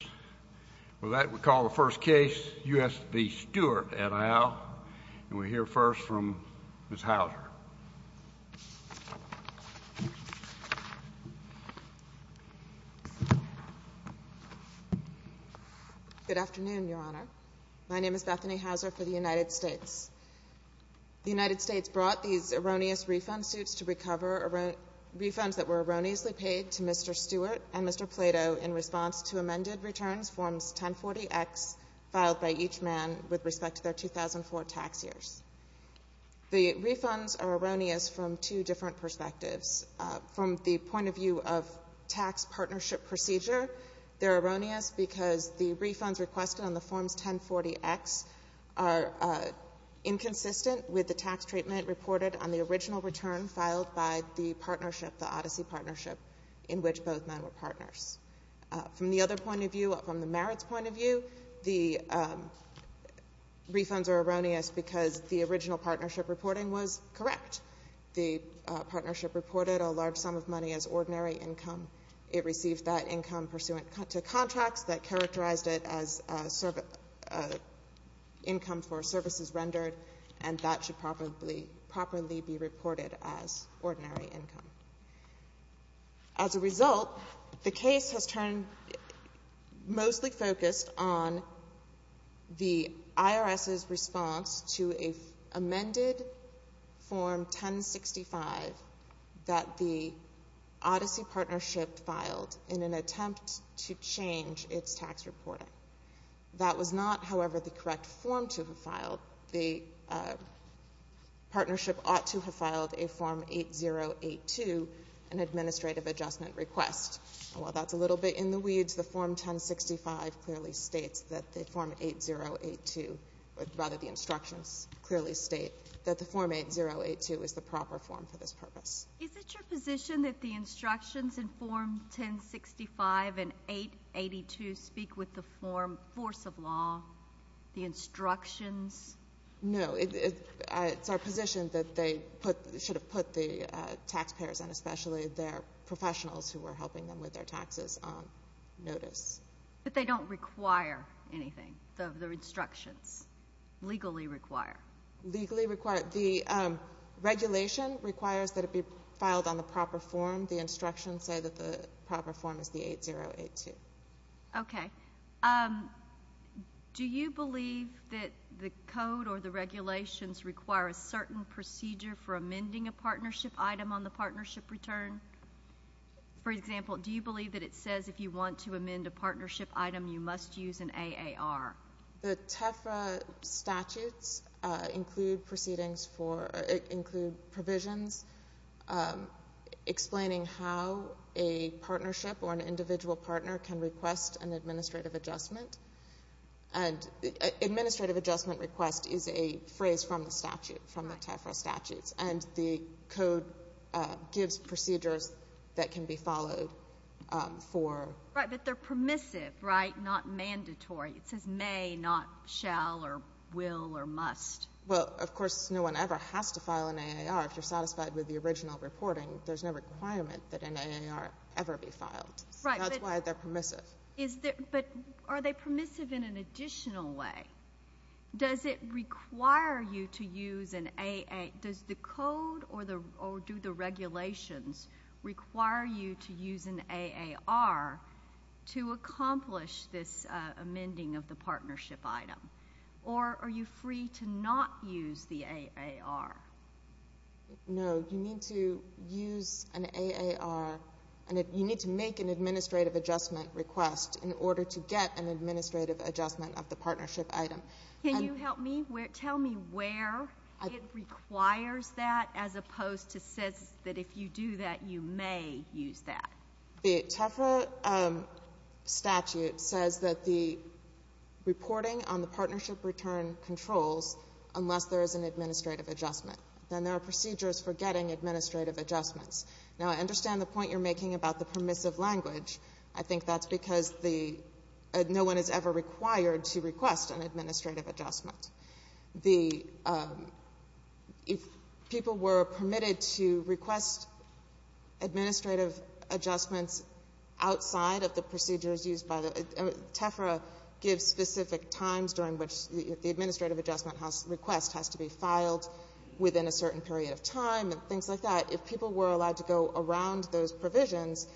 Good afternoon, Your Honor. My name is Bethany Hauser for the United States. The United States brought these erroneous refund suits to recover refunds that were erroneously paid to Mr. Stewart. The refunds are erroneous from two different perspectives. From the point of view of tax partnership procedure, they're erroneous because the refunds requested on the Forms 1040X are inconsistent with the tax treatment reported on the original return filed by the partnership, the Odyssey Partnership, in which both men were partners. From the other point of view, from the merits point of view, the refunds are erroneous because the original partnership reporting was correct. The partnership reported a large sum of money as ordinary income. It received that income pursuant to contracts that characterized it as income for services rendered, and that should properly be reported as ordinary income. As a result, the case has turned mostly focused on the IRS's response to an amended Form 1065 that the Odyssey Partnership filed in an attempt to change its tax reporting. That was not, in the weeds, the Form 1065 clearly states that the Form 8082, or rather the instructions clearly state that the Form 8082 is the proper form for this purpose. Is it your position that the instructions in Form 1065 and 882 speak with the force of law, the instructions? No. It's our position that they should have put the taxpayers and especially their professionals who were helping them with their taxes on notice. But they don't require anything, the instructions, legally require? Legally require. The regulation requires that it be filed on the proper form. The instructions say that the proper form is the 8082. Okay. Do you believe that the code or the regulations require a certain procedure for amending a partnership item on the partnership return? For example, do you believe that it says if you want to amend a partnership item, you must use an AAR? The TEFRA statutes include proceedings for, include provisions explaining how a partnership or an individual partner can request an administrative adjustment. Administrative adjustment request is a phrase from the statute, from the TEFRA statutes, and the code gives procedures that can be followed for. Right, but they're permissive, right? Not mandatory. It says may, not shall or will or must. Well, of course, no one ever has to file an AAR if you're satisfied with the original reporting. There's no requirement that an AAR ever be filed. Right. That's why they're permissive. But are they permissive in an additional way? Does it require you to use an AAR? Does the code or do the regulations require you to use an AAR to accomplish this amending of the partnership item? Or are you free to not use the AAR? No, you need to use an AAR, and you need to make an administrative adjustment request in order to get an administrative adjustment of the partnership item. Can you help me? Tell me where it requires that as opposed to says that if you do that, you may use that. The TEFRA statute says that the reporting on the partnership return controls unless there is an administrative adjustment. Then there are procedures for getting administrative adjustments. Now, I understand the point you're making about the permissive language. I think that's because no one is ever required to request an administrative adjustment. If people were permitted to request administrative adjustments outside of the procedures used by the — TEFRA gives specific times during which the administrative adjustment request has to be filed within a certain period of time and things like that. If people were allowed to go around those provisions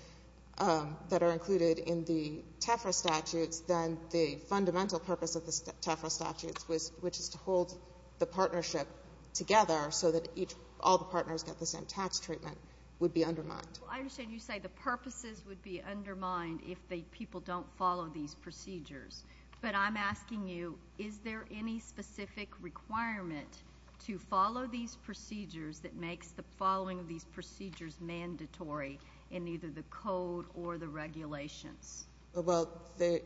that are included in the TEFRA statutes, then the fundamental purpose of the TEFRA statutes, which is to hold the partnership together so that each — all the partners get the same tax treatment, would be undermined. I understand you say the purposes would be undermined if the people don't follow these procedures. But I'm asking you, is there any specific requirement to follow these procedures that makes the following of these procedures mandatory in either the code or the regulations? Well, the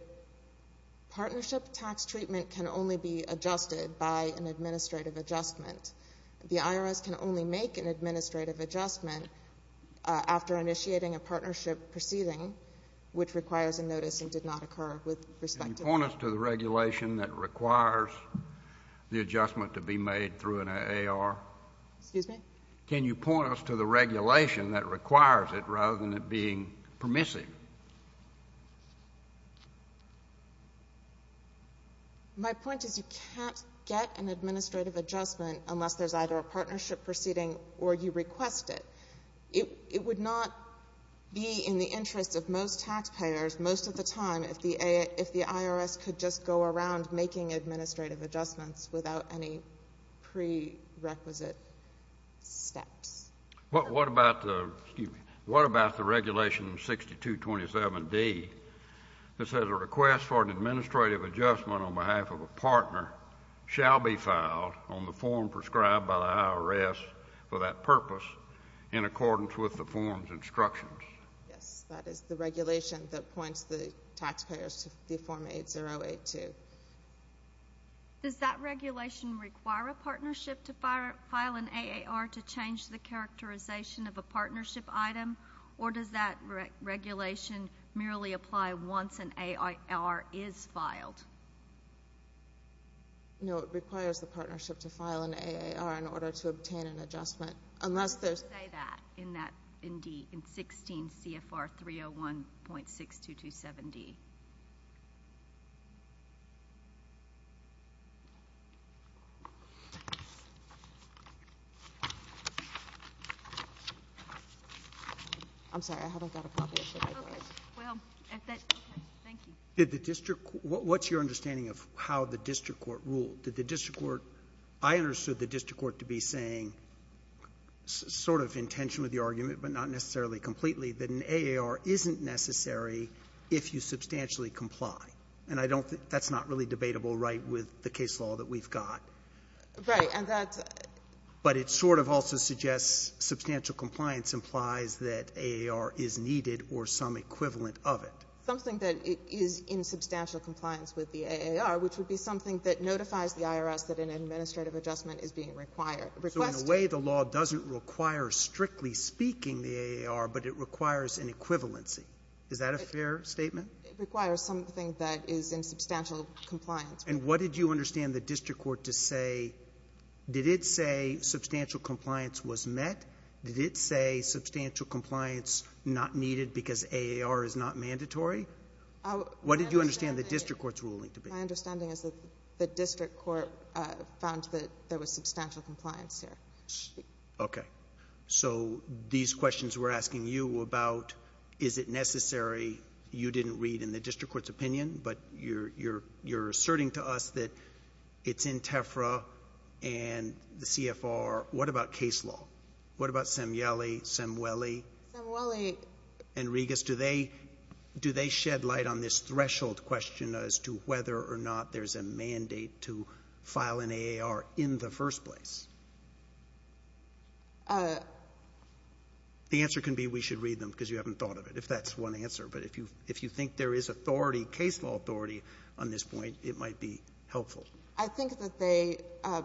partnership tax treatment can only be adjusted by an administrative adjustment. The IRS can only make an administrative adjustment after initiating a partnership proceeding, which requires a notice and did not occur with respect to that. Can you point us to the regulation that requires the adjustment to be made through an AR? Excuse me? Can you point us to the regulation that requires it rather than it being permissive? My point is you can't get an administrative adjustment unless there's either a partnership proceeding or you request it. It would not be in the interest of most taxpayers most of the time if the IRS could just go around making administrative adjustments without any prerequisite steps. What about the — excuse me — what about the regulation 6227D that says a request for an administrative adjustment on behalf of a partner shall be filed on the form prescribed by the IRS for that purpose in accordance with the form's instructions? Yes, that is the regulation that points the taxpayers to Form 8082. Does that regulation require a partnership to file an AAR to change the characterization of a partnership item, or does that regulation merely apply once an AAR is filed? No, it requires the partnership to file an AAR in order to obtain an adjustment unless there's — Say that in that — in D — in 16 CFR 301.6227D. I'm sorry. I haven't got a copy of it. Okay. Well, if that — okay. Thank you. Did the district — what's your understanding of how the district court ruled? Did the district court — I understood the district court to be saying, sort of in tension with your argument, but not necessarily completely, that an AAR isn't necessary if you substantially comply. And I don't — that's not really debatable right with the case law that we've got. Right. And that's — But it sort of also suggests substantial compliance implies that AAR is needed or some equivalent of it. Something that is in substantial compliance with the AAR, which would be something that notifies the IRS that an administrative adjustment is being required — requested. So in a way, the law doesn't require, strictly speaking, the AAR, but it requires an equivalency. Is that a fair statement? It requires something that is in substantial compliance. And what did you understand the district court to say? Did it say substantial compliance was met? Did it say substantial compliance not needed because AAR is not mandatory? What did you understand the district court's ruling to be? My understanding is that the district court found that there was substantial compliance there. Okay. So these questions we're asking you about, is it necessary, you didn't read in the district court's opinion, but you're asserting to us that it's in TEFRA and the CFR. What about case law? What about Semele, Semele? Semele — Do they shed light on this threshold question as to whether or not there's a mandate to file an AAR in the first place? The answer can be we should read them because you haven't thought of it, if that's one answer. But if you think there is authority, case law authority on this point, it might be helpful. I think that they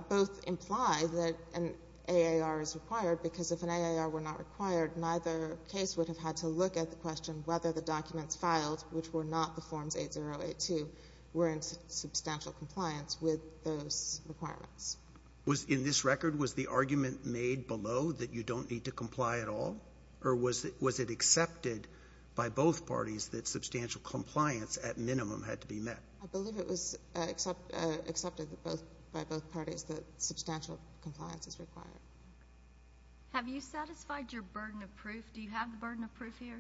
both imply that an AAR is required because if an AAR were not required, neither case would have had to look at the question whether the documents filed, which were not the Forms 8082, were in substantial compliance with those requirements. Was — in this record, was the argument made below that you don't need to comply at all, or was it accepted by both parties that substantial compliance at minimum had to be met? I believe it was accepted by both parties that substantial compliance is required. Have you satisfied your burden of proof? Do you have the burden of proof here?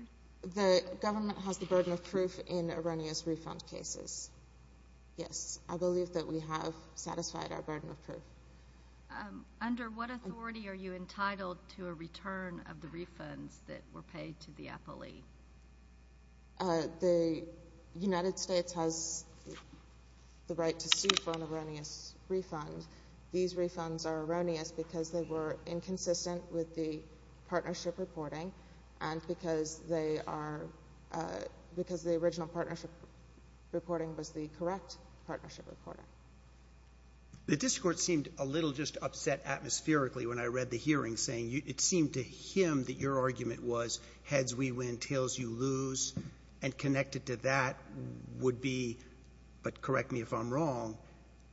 The government has the burden of proof in erroneous refund cases, yes. I believe that we have satisfied our burden of proof. Under what authority are you entitled to a return of the refunds that were paid to the appellee? The United States has the right to sue for an erroneous refund. These refunds are erroneous because they were inconsistent with the partnership reporting and because they are — because the original partnership reporting was the correct partnership reporting. The district court seemed a little just upset atmospherically when I read the hearing, saying it seemed to him that your argument was heads we win, tails you lose, and connected to that would be, but correct me if I'm wrong,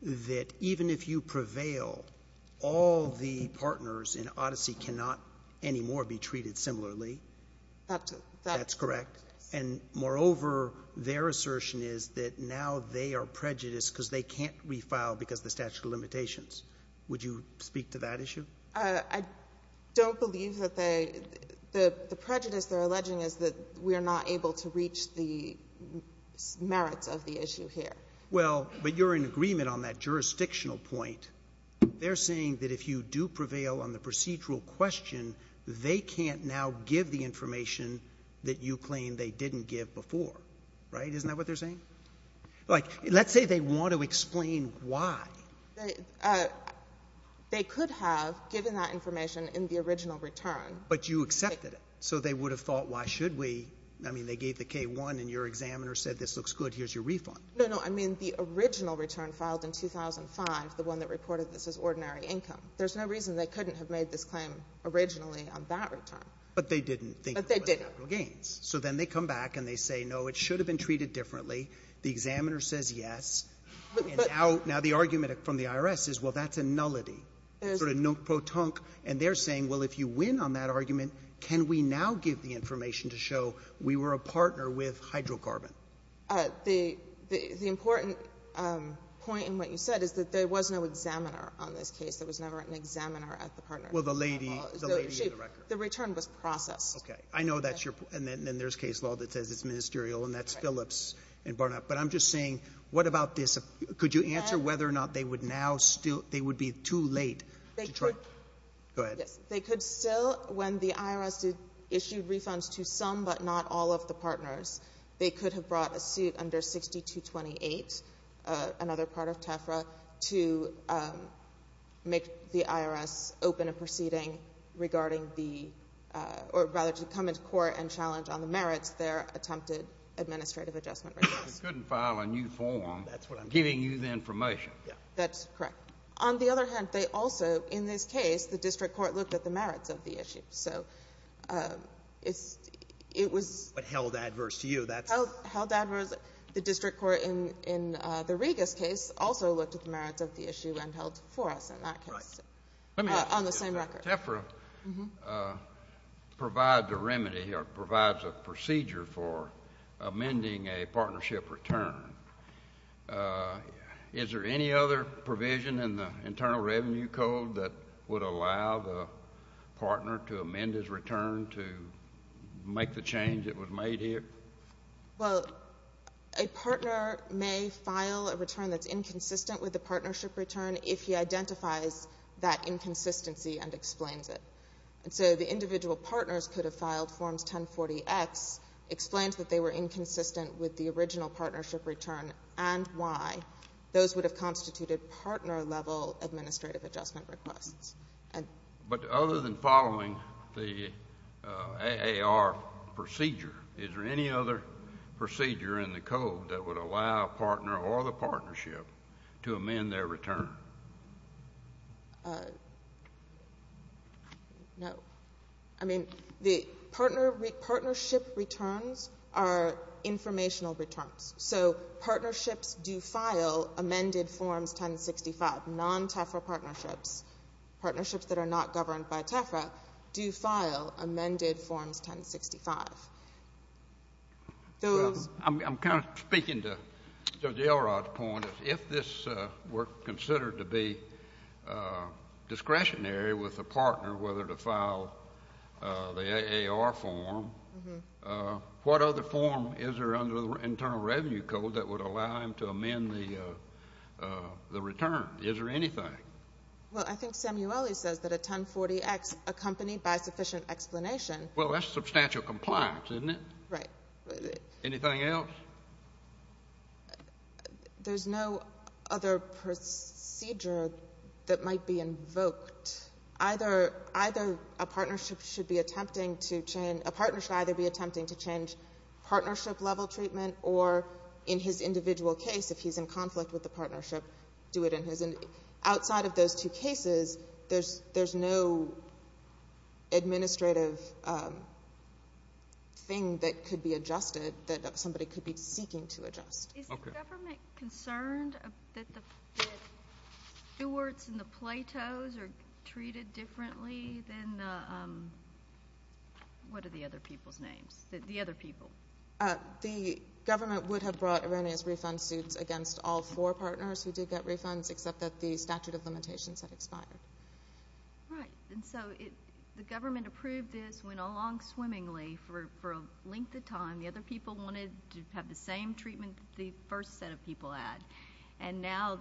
that even if you prevail, all the partners in Odyssey cannot anymore be treated similarly. That's correct. And moreover, their assertion is that now they are prejudiced because they can't refile because of the statute of limitations. Would you speak to that issue? I don't believe that they — the prejudice they're alleging is that we are not able to reach the merits of the issue here. Well, but you're in agreement on that jurisdictional point. They're saying that if you do prevail on the procedural question, they can't now give the information that you claim they didn't give before, right? Isn't that what they're saying? Like, let's say they want to explain why. They could have given that information in the original return. But you accepted it. So they would have thought, why should we? I mean, they gave the K-1 and your examiner said this looks good, here's your refund. No, no, I mean the original return filed in 2005, the one that reported this as ordinary income. There's no reason they couldn't have made this claim originally on that return. But they didn't think it was capital gains. So then they come back and they say, no, it should have been treated differently. The examiner says yes. And now the argument from the IRS is, well, that's a nullity. It's sort of nunk-pro-tunk. And they're saying, well, if you win on that argument, can we now give the information to show we were a partner with hydrocarbon? The important point in what you said is that there was no examiner on this case. There was never an examiner at the partner. Well, the lady in the record. The return was processed. Okay. I know that's your point. And then there's case law that says it's ministerial, and that's Phillips and Barnett. But I'm just saying, what about this? Could you answer whether or not they would be too late to try? Go ahead. Yes. They could still, when the IRS issued refunds to some but not all of the partners, they could have brought a suit under 6228, another part of TEFRA, to make the IRS open a proceeding regarding the or rather to come into court and challenge on the merits their attempted administrative adjustment request. They couldn't file a new form giving you the information. That's correct. On the other hand, they also, in this case, the district court looked at the merits of the issue. So it was — But held adverse to you. That's — Held adverse. The district court in the Regas case also looked at the merits of the issue and held for us in that case on the same record. So TEFRA provides a remedy or provides a procedure for amending a partnership return. Is there any other provision in the Internal Revenue Code that would allow the partner to amend his return to make the change that was made here? Well, a partner may file a return that's inconsistent with the partnership return if he identifies that inconsistency and explains it. And so the individual partners could have filed Forms 1040X, explained that they were inconsistent with the original partnership return and why. Those would have constituted partner-level administrative adjustment requests. But other than following the AAR procedure, is there any other procedure in the code that would allow a partner or the partnership to amend their return? No. I mean, the partnership returns are informational returns. So partnerships do file amended Forms 1065. Non-TEFRA partnerships, partnerships that are not governed by TEFRA, do file amended Forms 1065. I'm kind of speaking to Judge Elrod's point. If this were considered to be discretionary with a partner, whether to file the AAR form, what other form is there under the Internal Revenue Code that would allow him to amend the return? Is there anything? Well, I think Samueli says that a 1040X accompanied by sufficient explanation. Well, that's substantial compliance, isn't it? Right. Anything else? There's no other procedure that might be invoked. Either a partnership should be attempting to change partnership-level treatment or in his individual case, if he's in conflict with the partnership, do it in his. And outside of those two cases, there's no administrative thing that could be adjusted that somebody could be seeking to adjust. Okay. Is the government concerned that the Stewart's and the Plato's are treated differently than the other people's names, the other people? The government would have brought erroneous refund suits against all four partners who did get refunds except that the statute of limitations had expired. Right. And so the government approved this, went along swimmingly for a length of time. The other people wanted to have the same treatment that the first set of people had. And now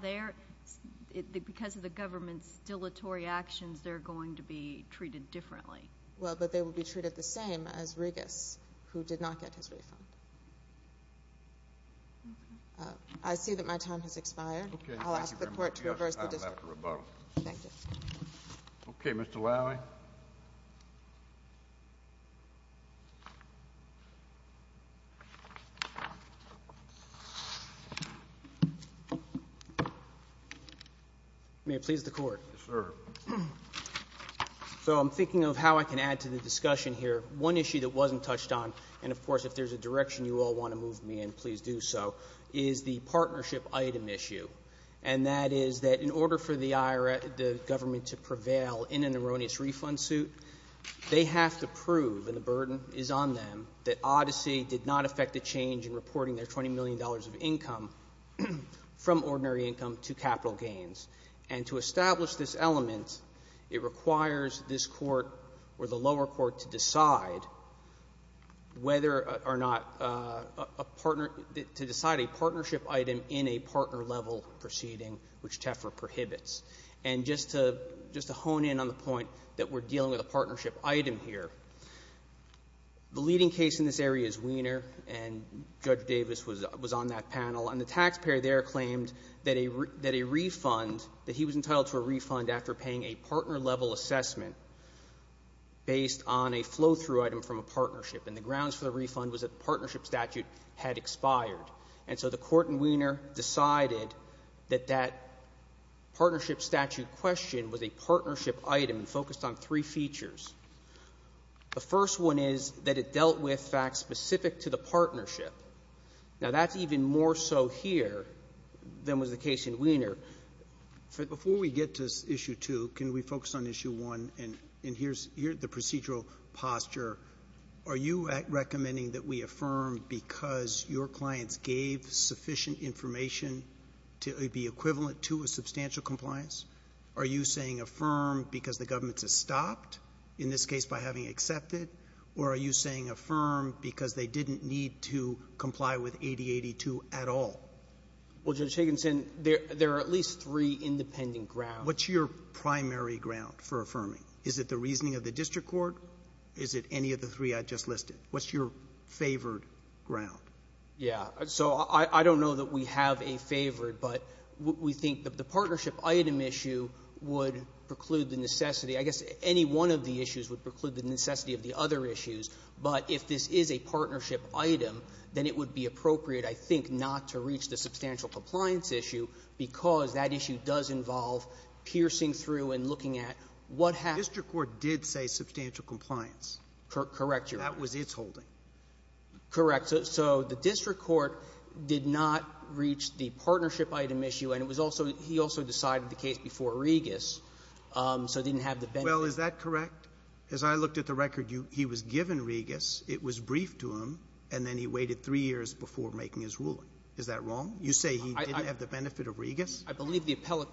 because of the government's dilatory actions, they're going to be treated differently. Well, but they will be treated the same as Regas, who did not get his refund. I see that my time has expired. I'll ask the Court to reverse the discussion. Thank you. Okay, Mr. Lally. May it please the Court. Yes, sir. So I'm thinking of how I can add to the discussion here. One issue that wasn't touched on, and, of course, if there's a direction you all want to move me in, please do so, is the partnership item issue. And that is that in order for the government to prevail in an erroneous refund suit, they have to prove, and the burden is on them, that Odyssey did not affect the change in reporting their $20 million of income from ordinary income to capital gains. And to establish this element, it requires this Court or the lower court to decide whether or not a partner to decide a partnership item in a partner-level proceeding, which TEFRA prohibits. And just to hone in on the point that we're dealing with a partnership item here, the leading case in this area is Wiener, and Judge Davis was on that panel. And the taxpayer there claimed that a refund, that he was entitled to a refund after paying a partner-level assessment based on a flow-through item from a partnership. And the grounds for the refund was that the partnership statute had expired. And so the Court in Wiener decided that that partnership statute question was a partnership item focused on three features. The first one is that it dealt with facts specific to the partnership. Now, that's even more so here than was the case in Wiener. Before we get to Issue 2, can we focus on Issue 1? And here's the procedural posture. Are you recommending that we affirm because your clients gave sufficient information to be equivalent to a substantial compliance? Are you saying affirm because the government has stopped, in this case by having accepted? Or are you saying affirm because they didn't need to comply with 8082 at all? Well, Judge Higginson, there are at least three independent grounds. What's your primary ground for affirming? Is it the reasoning of the district court? Is it any of the three I just listed? What's your favored ground? Yeah. So I don't know that we have a favored, but we think that the partnership item issue would preclude the necessity. I guess any one of the issues would preclude the necessity of the other issues. But if this is a partnership item, then it would be appropriate, I think, not to reach the substantial compliance issue because that issue does involve piercing through and looking at what happened. The district court did say substantial compliance. Correct, Your Honor. That was its holding. Correct. So the district court did not reach the partnership item issue, and it was also he also decided the case before Regas, so it didn't have the benefit. Well, is that correct? As I looked at the record, he was given Regas. It was briefed to him, and then he waited three years before making his ruling. Is that wrong? You say he didn't have the benefit of Regas? I believe the appellate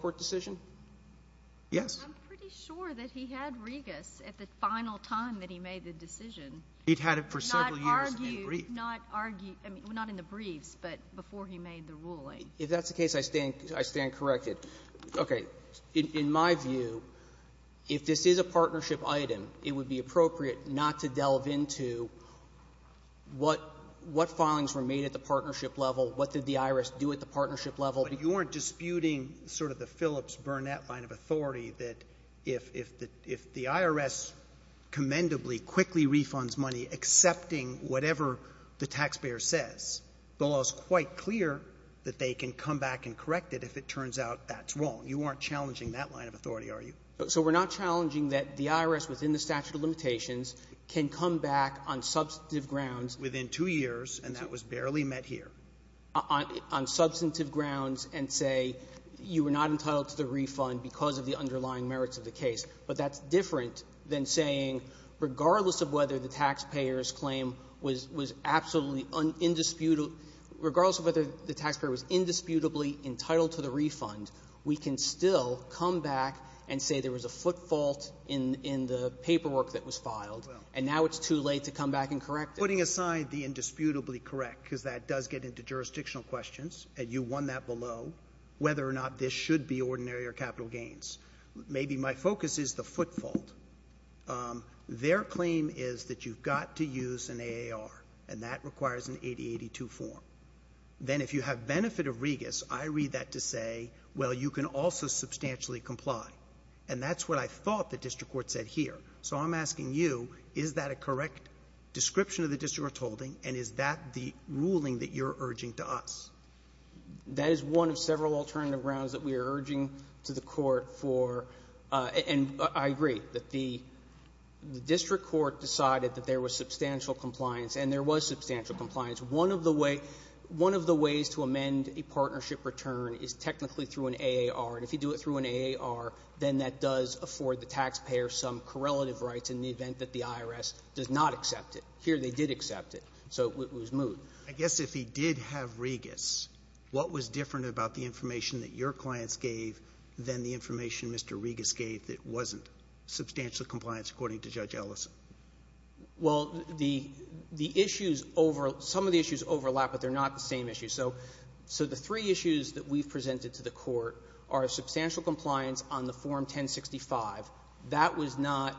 court decision. Yes. I'm pretty sure that he had Regas at the final time that he made the decision. He'd had it for several years and briefed. Not argued, not in the briefs, but before he made the ruling. If that's the case, I stand corrected. Okay. In my view, if this is a partnership item, it would be appropriate not to delve into what filings were made at the partnership level, what did the IRS do at the partnership level. But you aren't disputing sort of the Phillips-Burnett line of authority, that if the IRS commendably quickly refunds money, accepting whatever the taxpayer says, the law is quite clear that they can come back and correct it if it turns out that's wrong. You aren't challenging that line of authority, are you? So we're not challenging that the IRS, within the statute of limitations, can come back on substantive grounds. Within two years, and that was barely met here. On substantive grounds and say you were not entitled to the refund because of the underlying merits of the case. But that's different than saying, regardless of whether the taxpayer's claim was absolutely indisputable, regardless of whether the taxpayer was indisputably entitled to the refund, we can still come back and say there was a foot fault in the paperwork that was filed, and now it's too late to come back and correct it. Sotomayor, putting aside the indisputably correct, because that does get into jurisdictional questions, and you won that below, whether or not this should be ordinary or capital gains. Maybe my focus is the foot fault. Their claim is that you've got to use an AAR, and that requires an 8082 form. Then if you have benefit of Regus, I read that to say, well, you can also substantially comply. And that's what I thought the district court said here. So I'm asking you, is that a correct description of the district court's holding, and is that the ruling that you're urging to us? That is one of several alternative grounds that we are urging to the court for. And I agree that the district court decided that there was substantial compliance, and there was substantial compliance. One of the ways to amend a partnership return is technically through an AAR. And if you do it through an AAR, then that does afford the taxpayer some correlative rights in the event that the IRS does not accept it. Here they did accept it, so it was moved. Roberts, I guess if he did have Regus, what was different about the information that your clients gave than the information Mr. Regus gave that wasn't substantial compliance, according to Judge Ellison? Well, the issues over — some of the issues overlap, but they're not the same issues. So the three issues that we've presented to the court are substantial compliance on the Form 1065. That was not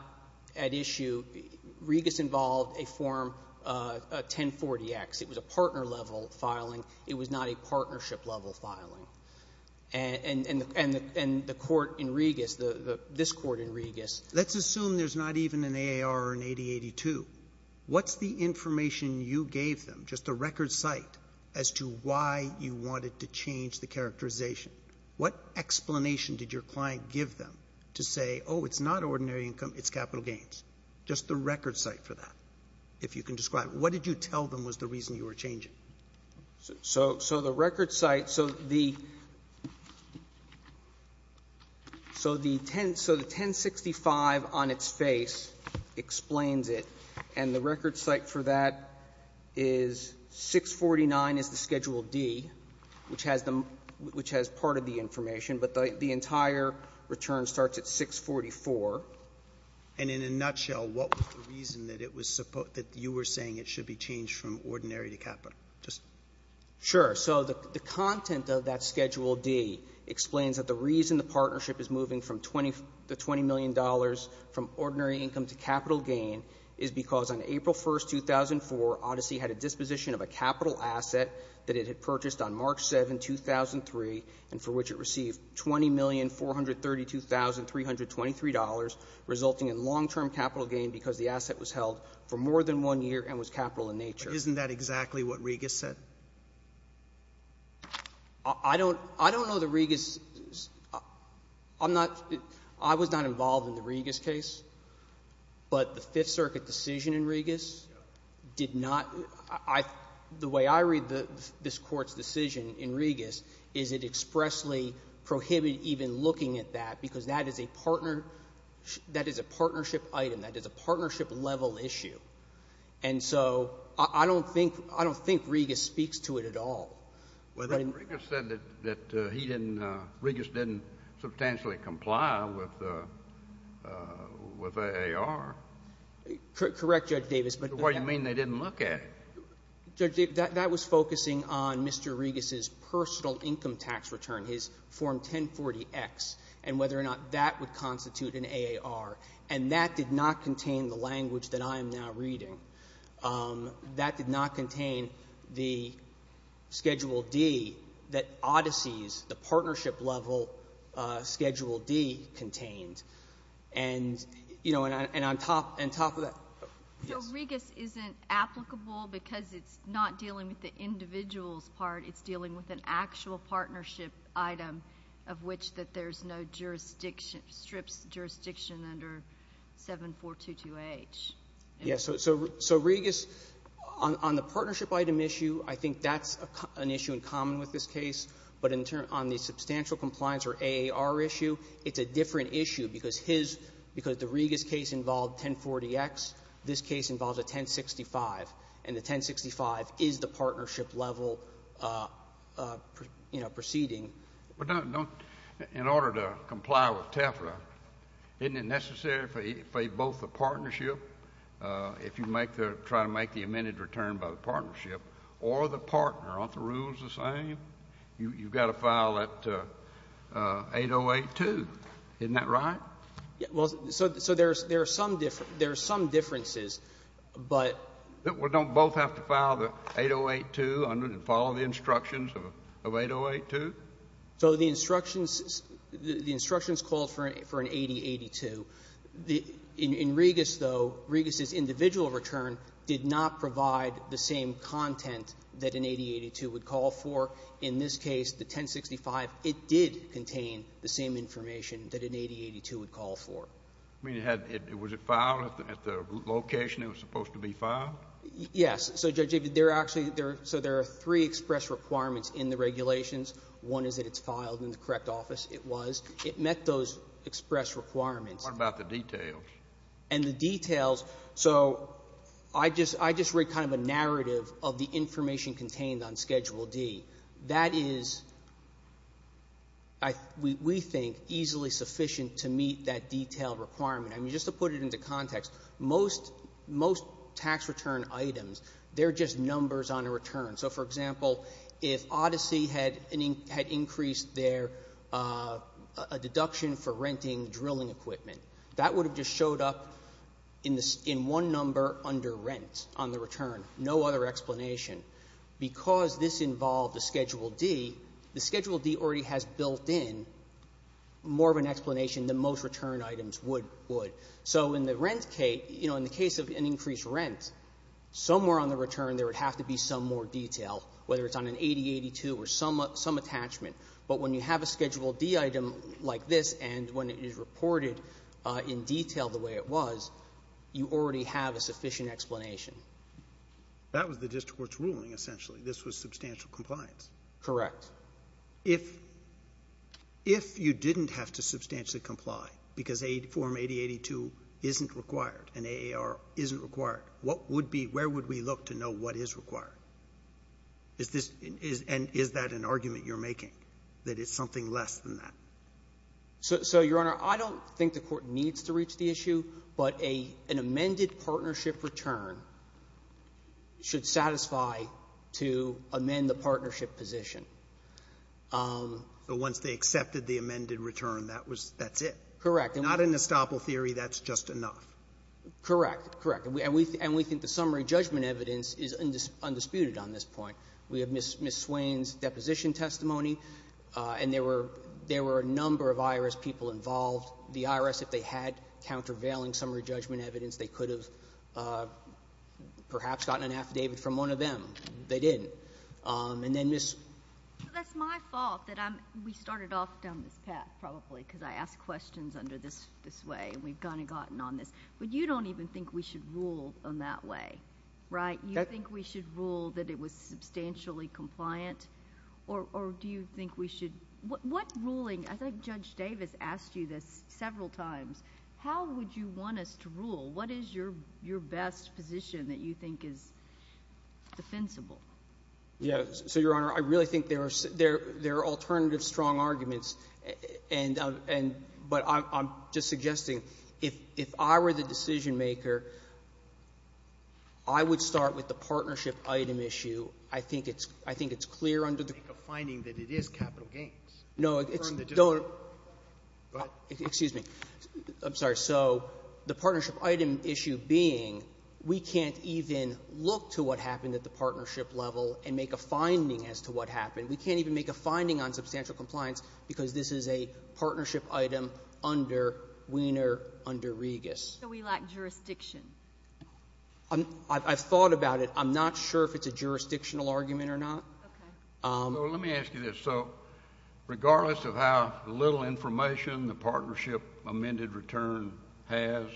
at issue. Regus involved a Form 1040X. It was a partner-level filing. It was not a partnership-level filing. And the court in Regus, this court in Regus — Let's assume there's not even an AAR or an 8082. What's the information you gave them, just a record cite, as to why you wanted to change the characterization? What explanation did your client give them to say, oh, it's not ordinary income, it's capital gains? Just the record cite for that, if you can describe it. What did you tell them was the reason you were changing? So the record cite — so the — so the 1065 on its face explains it, and the record cite for that is 649 is the Schedule D, which has part of the information, but the entire return starts at 644. And in a nutshell, what was the reason that it was — that you were saying it should be changed from ordinary to capital? Just — Sure. So the content of that Schedule D explains that the reason the partnership is moving from the $20 million from ordinary income to capital gain is because on April 1st, 2004, Odyssey had a disposition of a capital asset that it had purchased on March 7, 2003, and for which it received $20,432,323, resulting in long-term capital gain because the asset was held for more than one year and was capital-in-nature. Isn't that exactly what Regas said? I don't — I don't know that Regas — I'm not — I was not involved in the Regas case, but the Fifth Circuit decision in Regas did not — I — the way I read this Court's decision in Regas is it expressly prohibited even looking at that because that is a partner — that is a partnership item. That is a partnership-level issue. And so I don't think — I don't think Regas speaks to it at all. But in — But Regas said that he didn't — Regas didn't substantially comply with AAR. Correct, Judge Davis, but — So what do you mean they didn't look at it? Judge, that was focusing on Mr. Regas's personal income tax return, his Form 1040X, and whether or not that would constitute an AAR, and that did not contain the reading. That did not contain the Schedule D that Odyssey's — the partnership-level Schedule D contained. And, you know, and on top — and on top of that — So Regas isn't applicable because it's not dealing with the individual's part. It's dealing with an actual partnership item of which that there's no jurisdiction — strips jurisdiction under 7422H. Yes. So — so — so Regas, on — on the partnership item issue, I think that's an issue in common with this case. But in turn, on the substantial compliance or AAR issue, it's a different issue because his — because the Regas case involved 1040X, this case involves a 1065, and the 1065 is the partnership-level, you know, proceeding. But don't — in order to comply with TEFRA, isn't it necessary for both the partnership if you make the — try to make the amended return by the partnership, or the partner? Aren't the rules the same? You've got to file that 8082. Isn't that right? Well, so — so there's — there are some differences, but — Well, don't both have to file the 8082 and follow the instructions of 8082? So the instructions — the instructions called for an 8082. The — in Regas, though, Regas's individual return did not provide the same content that an 8082 would call for. In this case, the 1065, it did contain the same information that an 8082 would call for. I mean, it had — was it filed at the — at the location it was supposed to be filed? Yes. So, Judge, there are actually — so there are three express requirements in the regulations. One is that it's filed in the correct office. It was. It met those express requirements. What about the details? And the details — so I just — I just read kind of a narrative of the information contained on Schedule D. That is, I — we think, easily sufficient to meet that detailed requirement. I mean, just to put it into context, most — most tax return items, they're just numbers on a return. So, for example, if Odyssey had — had increased their — a deduction for renting drilling equipment, that would have just showed up in the — in one number under rent on the return, no other explanation. Because this involved a Schedule D, the Schedule D already has built in more of an explanation than most return items would — would. So in the rent case — you know, in the case of an increased rent, somewhere on the detail, whether it's on an 8082 or some — some attachment, but when you have a Schedule D item like this and when it is reported in detail the way it was, you already have a sufficient explanation. That was the district court's ruling, essentially. This was substantial compliance. Correct. If — if you didn't have to substantially comply because Form 8082 isn't required and AAR isn't required, what would be — where would we look to know what is required? Is this — and is that an argument you're making, that it's something less than that? So, Your Honor, I don't think the Court needs to reach the issue, but a — an amended partnership return should satisfy to amend the partnership position. So once they accepted the amended return, that was — that's it. Correct. Not an estoppel theory, that's just enough. Correct. Correct. And we — and we think the summary judgment evidence is undisputed on this point. We have Ms. Swain's deposition testimony, and there were — there were a number of IRS people involved. The IRS, if they had countervailing summary judgment evidence, they could have perhaps gotten an affidavit from one of them. They didn't. And then Ms. — That's my fault that I'm — we started off down this path, probably, because I ask questions under this — this way, and we've kind of gotten on this. But you don't even think we should rule in that way, right? You think we should rule that it was substantially compliant, or — or do you think we should — what ruling — I think Judge Davis asked you this several times. How would you want us to rule? What is your — your best position that you think is defensible? Yeah. So, Your Honor, I really think there are — there are alternative strong arguments, and — and — but I'm — I'm just suggesting, if — if I were the decision-maker, I would start with the partnership item issue. I think it's — I think it's clear under the — Make a finding that it is capital gains. No, it's — Confirm the — Don't — Go ahead. Excuse me. I'm sorry. So the partnership item issue being, we can't even look to what happened at the partnership level and make a finding as to what happened. We can't even make a finding on substantial compliance because this is a partnership item under Weiner under Regas. So we lack jurisdiction. I'm — I've thought about it. I'm not sure if it's a jurisdictional argument or not. Okay. So let me ask you this. So regardless of how little information the partnership amended return has,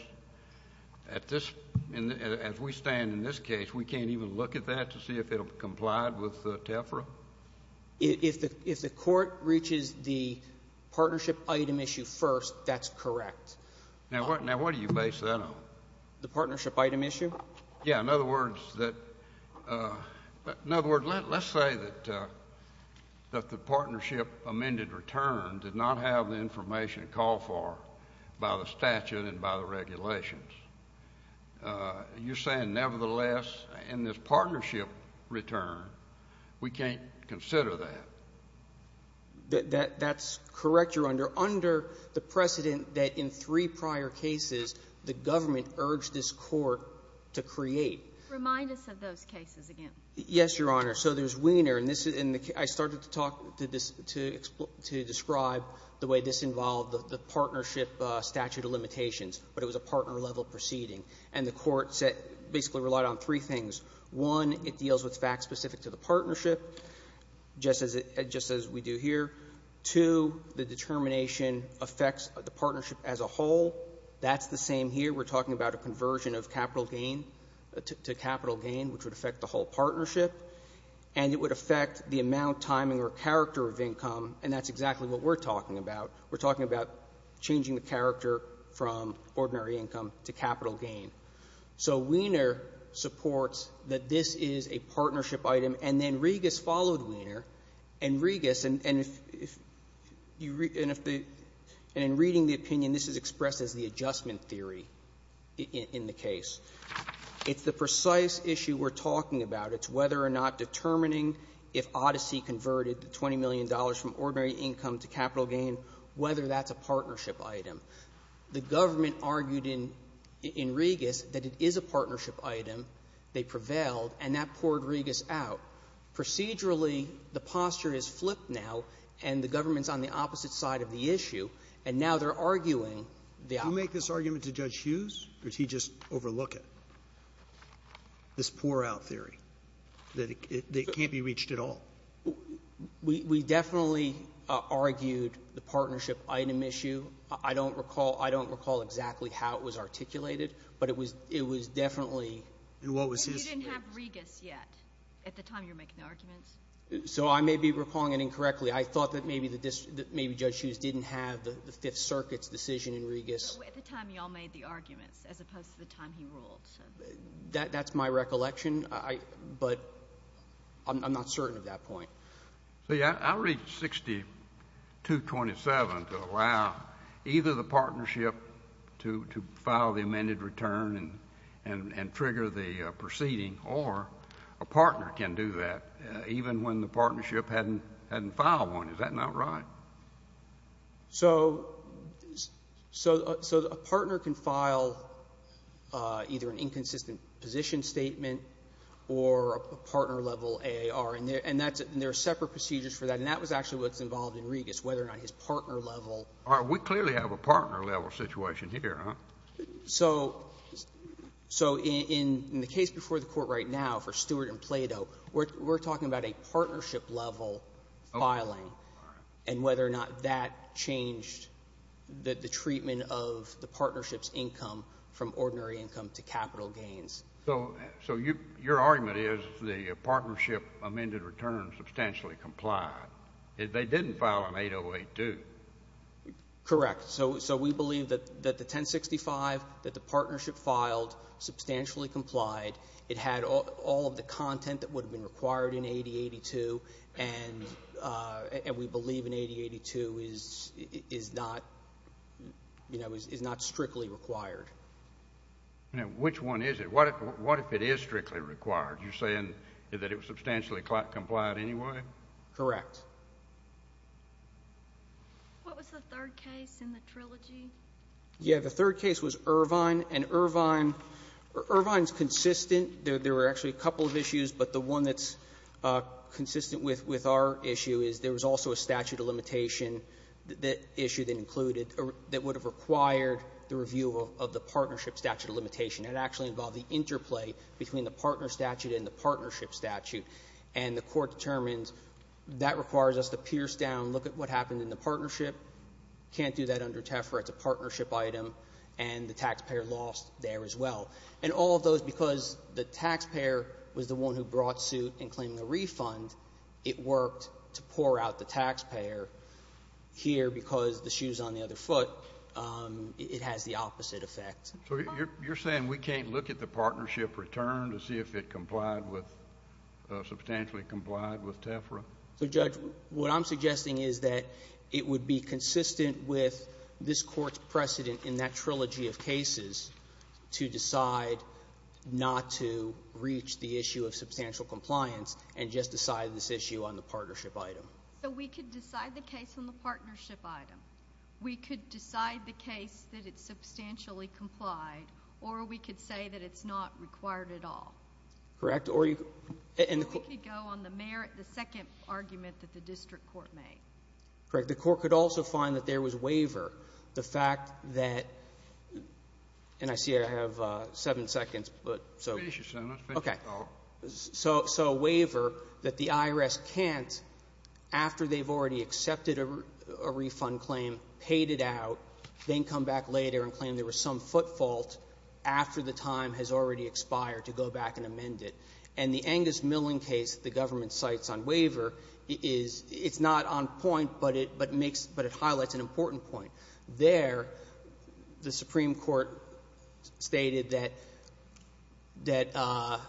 at this — as we stand in this case, we can't even look at that to see if it'll comply with TEFRA? If the — if the Court reaches the partnership item issue first, that's correct. Now, what — now, what do you base that on? The partnership item issue? Yeah. In other words, that — in other words, let's say that — that the partnership amended return did not have the information it called for by the statute and by the regulations. You're saying, nevertheless, in this partnership return, we can't consider that? That's correct, Your Honor. Under the precedent that in three prior cases, the government urged this Court to create. Remind us of those cases again. Yes, Your Honor. So there's Weiner, and this is — and I started to talk to this — to describe the way this involved the partnership statute of limitations, but it was a partner-level proceeding. And the Court said — basically relied on three things. One, it deals with facts specific to the partnership, just as — just as we do here. Two, the determination affects the partnership as a whole. That's the same here. We're talking about a conversion of capital gain — to capital gain, which would affect the whole partnership. And it would affect the amount, timing, or character of income, and that's exactly what we're talking about. We're talking about changing the character from ordinary income to capital gain. So Weiner supports that this is a partnership item, and then Regas followed Weiner. And Regas — and if you — and if the — and in reading the opinion, this is expressed as the adjustment theory in the case. It's the precise issue we're talking about. It's whether or not determining if Odyssey converted the $20 million from ordinary income to capital gain, whether that's a partnership item. The government argued in — in Regas that it is a partnership item. They prevailed, and that poured Regas out. Procedurally, the posture is flipped now, and the government's on the opposite side of the issue, and now they're arguing the opposite. Roberts. Roberts. You make this argument to Judge Hughes, or did he just overlook it, this pour-out theory, that it can't be reached at all? We — we definitely argued the partnership item issue. I don't recall — I don't recall exactly how it was articulated, but it was — it was definitely — And what was his — But you didn't have Regas yet at the time you were making the arguments. So I may be recalling it incorrectly. I thought that maybe the — that maybe Judge Hughes didn't have the Fifth Circuit's decision in Regas. But at the time, you all made the arguments, as opposed to the time he ruled. That's my recollection. I — but I'm not certain of that point. See, I read 6227 to allow either the partnership to — to file the amended return and — and trigger the proceeding, or a partner can do that, even when the partnership hadn't — hadn't filed one. Is that not right? So — so — so a partner can file either an inconsistent position statement or a partner level AAR, and there — and that's — and there are separate procedures for that. And that was actually what's involved in Regas, whether or not his partner level — All right. We clearly have a partner level situation here, huh? So — so in — in the case before the Court right now for Stewart and Plato, we're talking about a partnership level filing. All right. And whether or not that changed the — the treatment of the partnership's income from ordinary income to capital gains. So — so you — your argument is the partnership amended return substantially complied. It — they didn't file an 8082. Correct. So — so we believe that — that the 1065, that the partnership filed, substantially complied. It had all — all of the content that would have been required in 8082. And — and we believe an 8082 is — is not — you know, is not strictly required. Now, which one is it? What if — what if it is strictly required? You're saying that it was substantially complied anyway? Correct. What was the third case in the trilogy? Yeah, the third case was Irvine. And Irvine — Irvine's consistent. There were actually a couple of issues, but the one that's consistent with — with our issue is there was also a statute of limitation issue that included — that would have required the review of the partnership statute of limitation. It actually involved the interplay between the partner statute and the partnership statute, and the Court determined that requires us to pierce down, look at what happened in the partnership, can't do that under TEFRA, it's a partnership item, and the taxpayer lost there as well. And all of those, because the taxpayer was the one who brought suit in claiming a refund, it worked to pour out the taxpayer. Here, because the shoe's on the other foot, it has the opposite effect. So you're — you're saying we can't look at the partnership return to see if it complied with — substantially complied with TEFRA? So, Judge, what I'm suggesting is that it would be consistent with this Court's in that trilogy of cases to decide not to reach the issue of substantial compliance and just decide this issue on the partnership item. So we could decide the case on the partnership item. We could decide the case that it substantially complied, or we could say that it's not required at all? Correct, or you — Or we could go on the merit, the second argument that the district court made. Correct. The Court could also find that there was waiver. The fact that — and I see I have seven seconds, but — Finish your sentence. Finish your talk. Okay. So — so a waiver that the IRS can't, after they've already accepted a refund claim, paid it out, then come back later and claim there was some footfault after the time has already expired to go back and amend it. And the Angus Milling case the government cites on waiver is — it's not on point, but it makes — but it highlights an important point. There, the Supreme Court stated that — that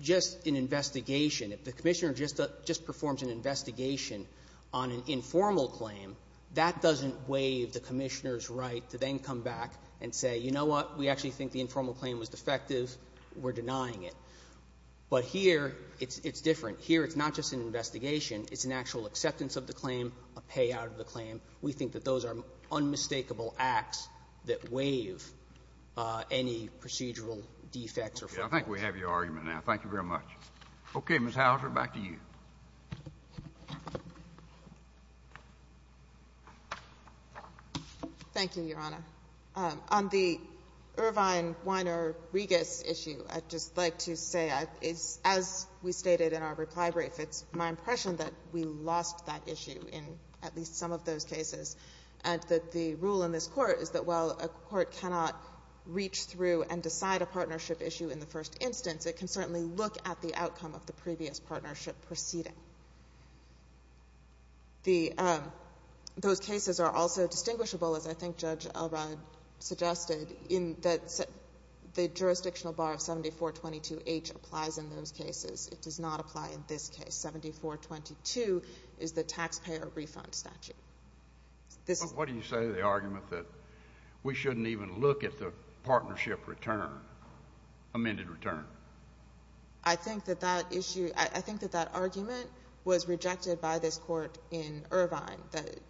just an investigation, if the Commissioner just — just performs an investigation on an informal claim, that doesn't waive the Commissioner's right to then come back and say, you know what, we actually think the informal claim was defective, we're denying it. But here, it's different. Here, it's not just an investigation. It's an actual acceptance of the claim, a payout of the claim. We think that those are unmistakable acts that waive any procedural defects or faults. I think we have your argument now. Thank you very much. Okay. Ms. Houser, back to you. Thank you, Your Honor. On the Irvine-Weiner-Rigas issue, I'd just like to say, as we stated in our reply brief, it's my impression that we lost that issue in at least some of those cases, and that the rule in this Court is that while a court cannot reach through and decide a partnership issue in the first instance, it can certainly look at the outcome of the previous partnership proceeding. Those cases are also distinguishable, as I think Judge Elrod suggested, in that the jurisdictional bar of 7422H applies in those cases. It does not apply in this case. 7422 is the taxpayer refund statute. What do you say to the argument that we shouldn't even look at the partnership return, amended return? I think that that argument was rejected by this Court in Irvine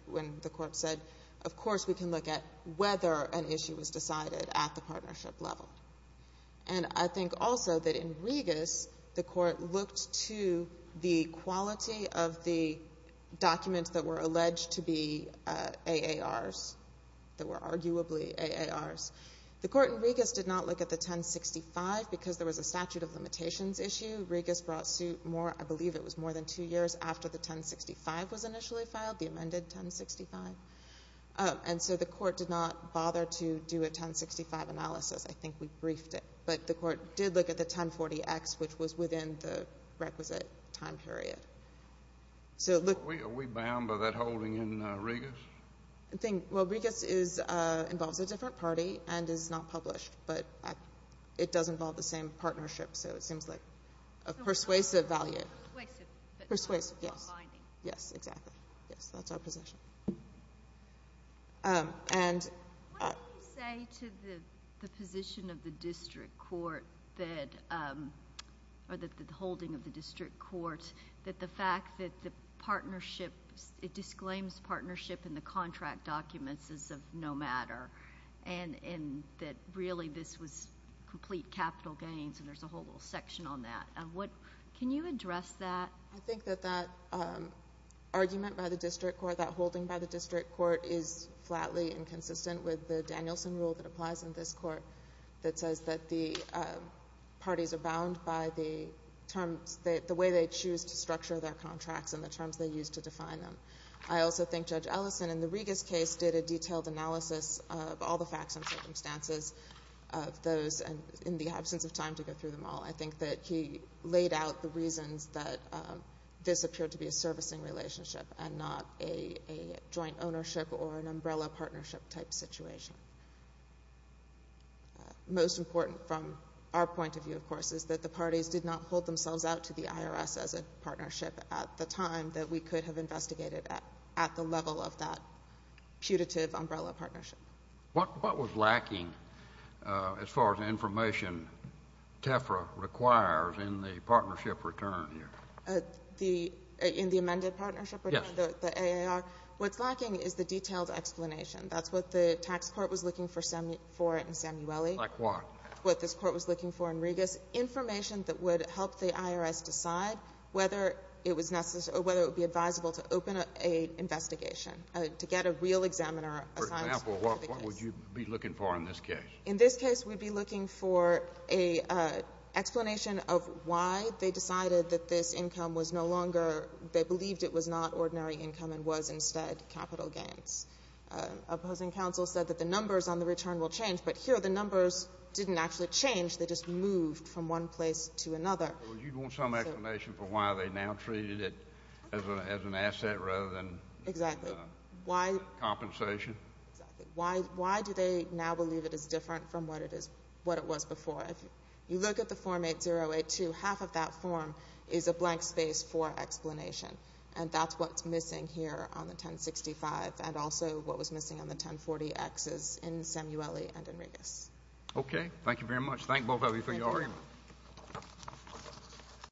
when the Court said, of course, we can look at whether an issue was decided at the partnership level. And I think also that in Rigas, the Court looked to the quality of the documents that were alleged to be AARs, that were arguably AARs. The Court in Rigas did not look at the 1065 because there was a statute of limitations issue. Rigas brought suit more, I believe it was more than two years after the 1065 was initially filed, the amended 1065. And so the Court did not bother to do a 1065 analysis. I think we briefed it. But the Court did look at the 1040X, which was within the requisite time period. Are we bound by that holding in Rigas? Well, Rigas involves a different party and is not published. But it does involve the same partnership, so it seems like a persuasive value. Persuasive, but not binding. Yes, exactly. Yes, that's our position. What do you say to the position of the District Court, or the holding of the District Court, that the fact that the partnership, it disclaims partnership in the contract documents as of no matter, and that really this was complete capital gains, and there's a whole little section on that. Can you address that? I think that that argument by the District Court, that holding by the District Court, is flatly inconsistent with the Danielson rule that applies in this Court that says that the parties are bound by the terms, the way they choose to structure their contracts and the terms they use to define them. I also think Judge Ellison in the Rigas case did a detailed analysis of all the facts and circumstances of those in the absence of time to go through them all. I think that he laid out the reasons that this appeared to be a servicing relationship and not a joint ownership or an umbrella partnership type situation. Most important from our point of view, of course, is that the parties did not hold themselves out to the IRS as a partnership at the time that we could have investigated at the level of that putative umbrella partnership. What was lacking as far as information TEFRA requires in the partnership return here? In the amended partnership return? Yes. The AAR. What's lacking is the detailed explanation. That's what the tax court was looking for in Samueli. Like what? What this Court was looking for in Rigas. Information that would help the IRS decide whether it was necessary or whether it would be advisable to open an investigation, to get a real examiner assigned to the case. For example, what would you be looking for in this case? In this case, we'd be looking for an explanation of why they decided that this income they believed it was not ordinary income and was instead capital gains. Opposing counsel said that the numbers on the return will change, but here the numbers didn't actually change. They just moved from one place to another. Well, you want some explanation for why they now treated it as an asset rather than Exactly. compensation? Exactly. Why do they now believe it is different from what it was before? If you look at the Form 8082, half of that form is a blank space for explanation, and that's what's missing here on the 1065 and also what was missing on the 1040Xs in Samueli and in Rigas. Okay. Thank you very much. Thank both of you for your argument. Thank you.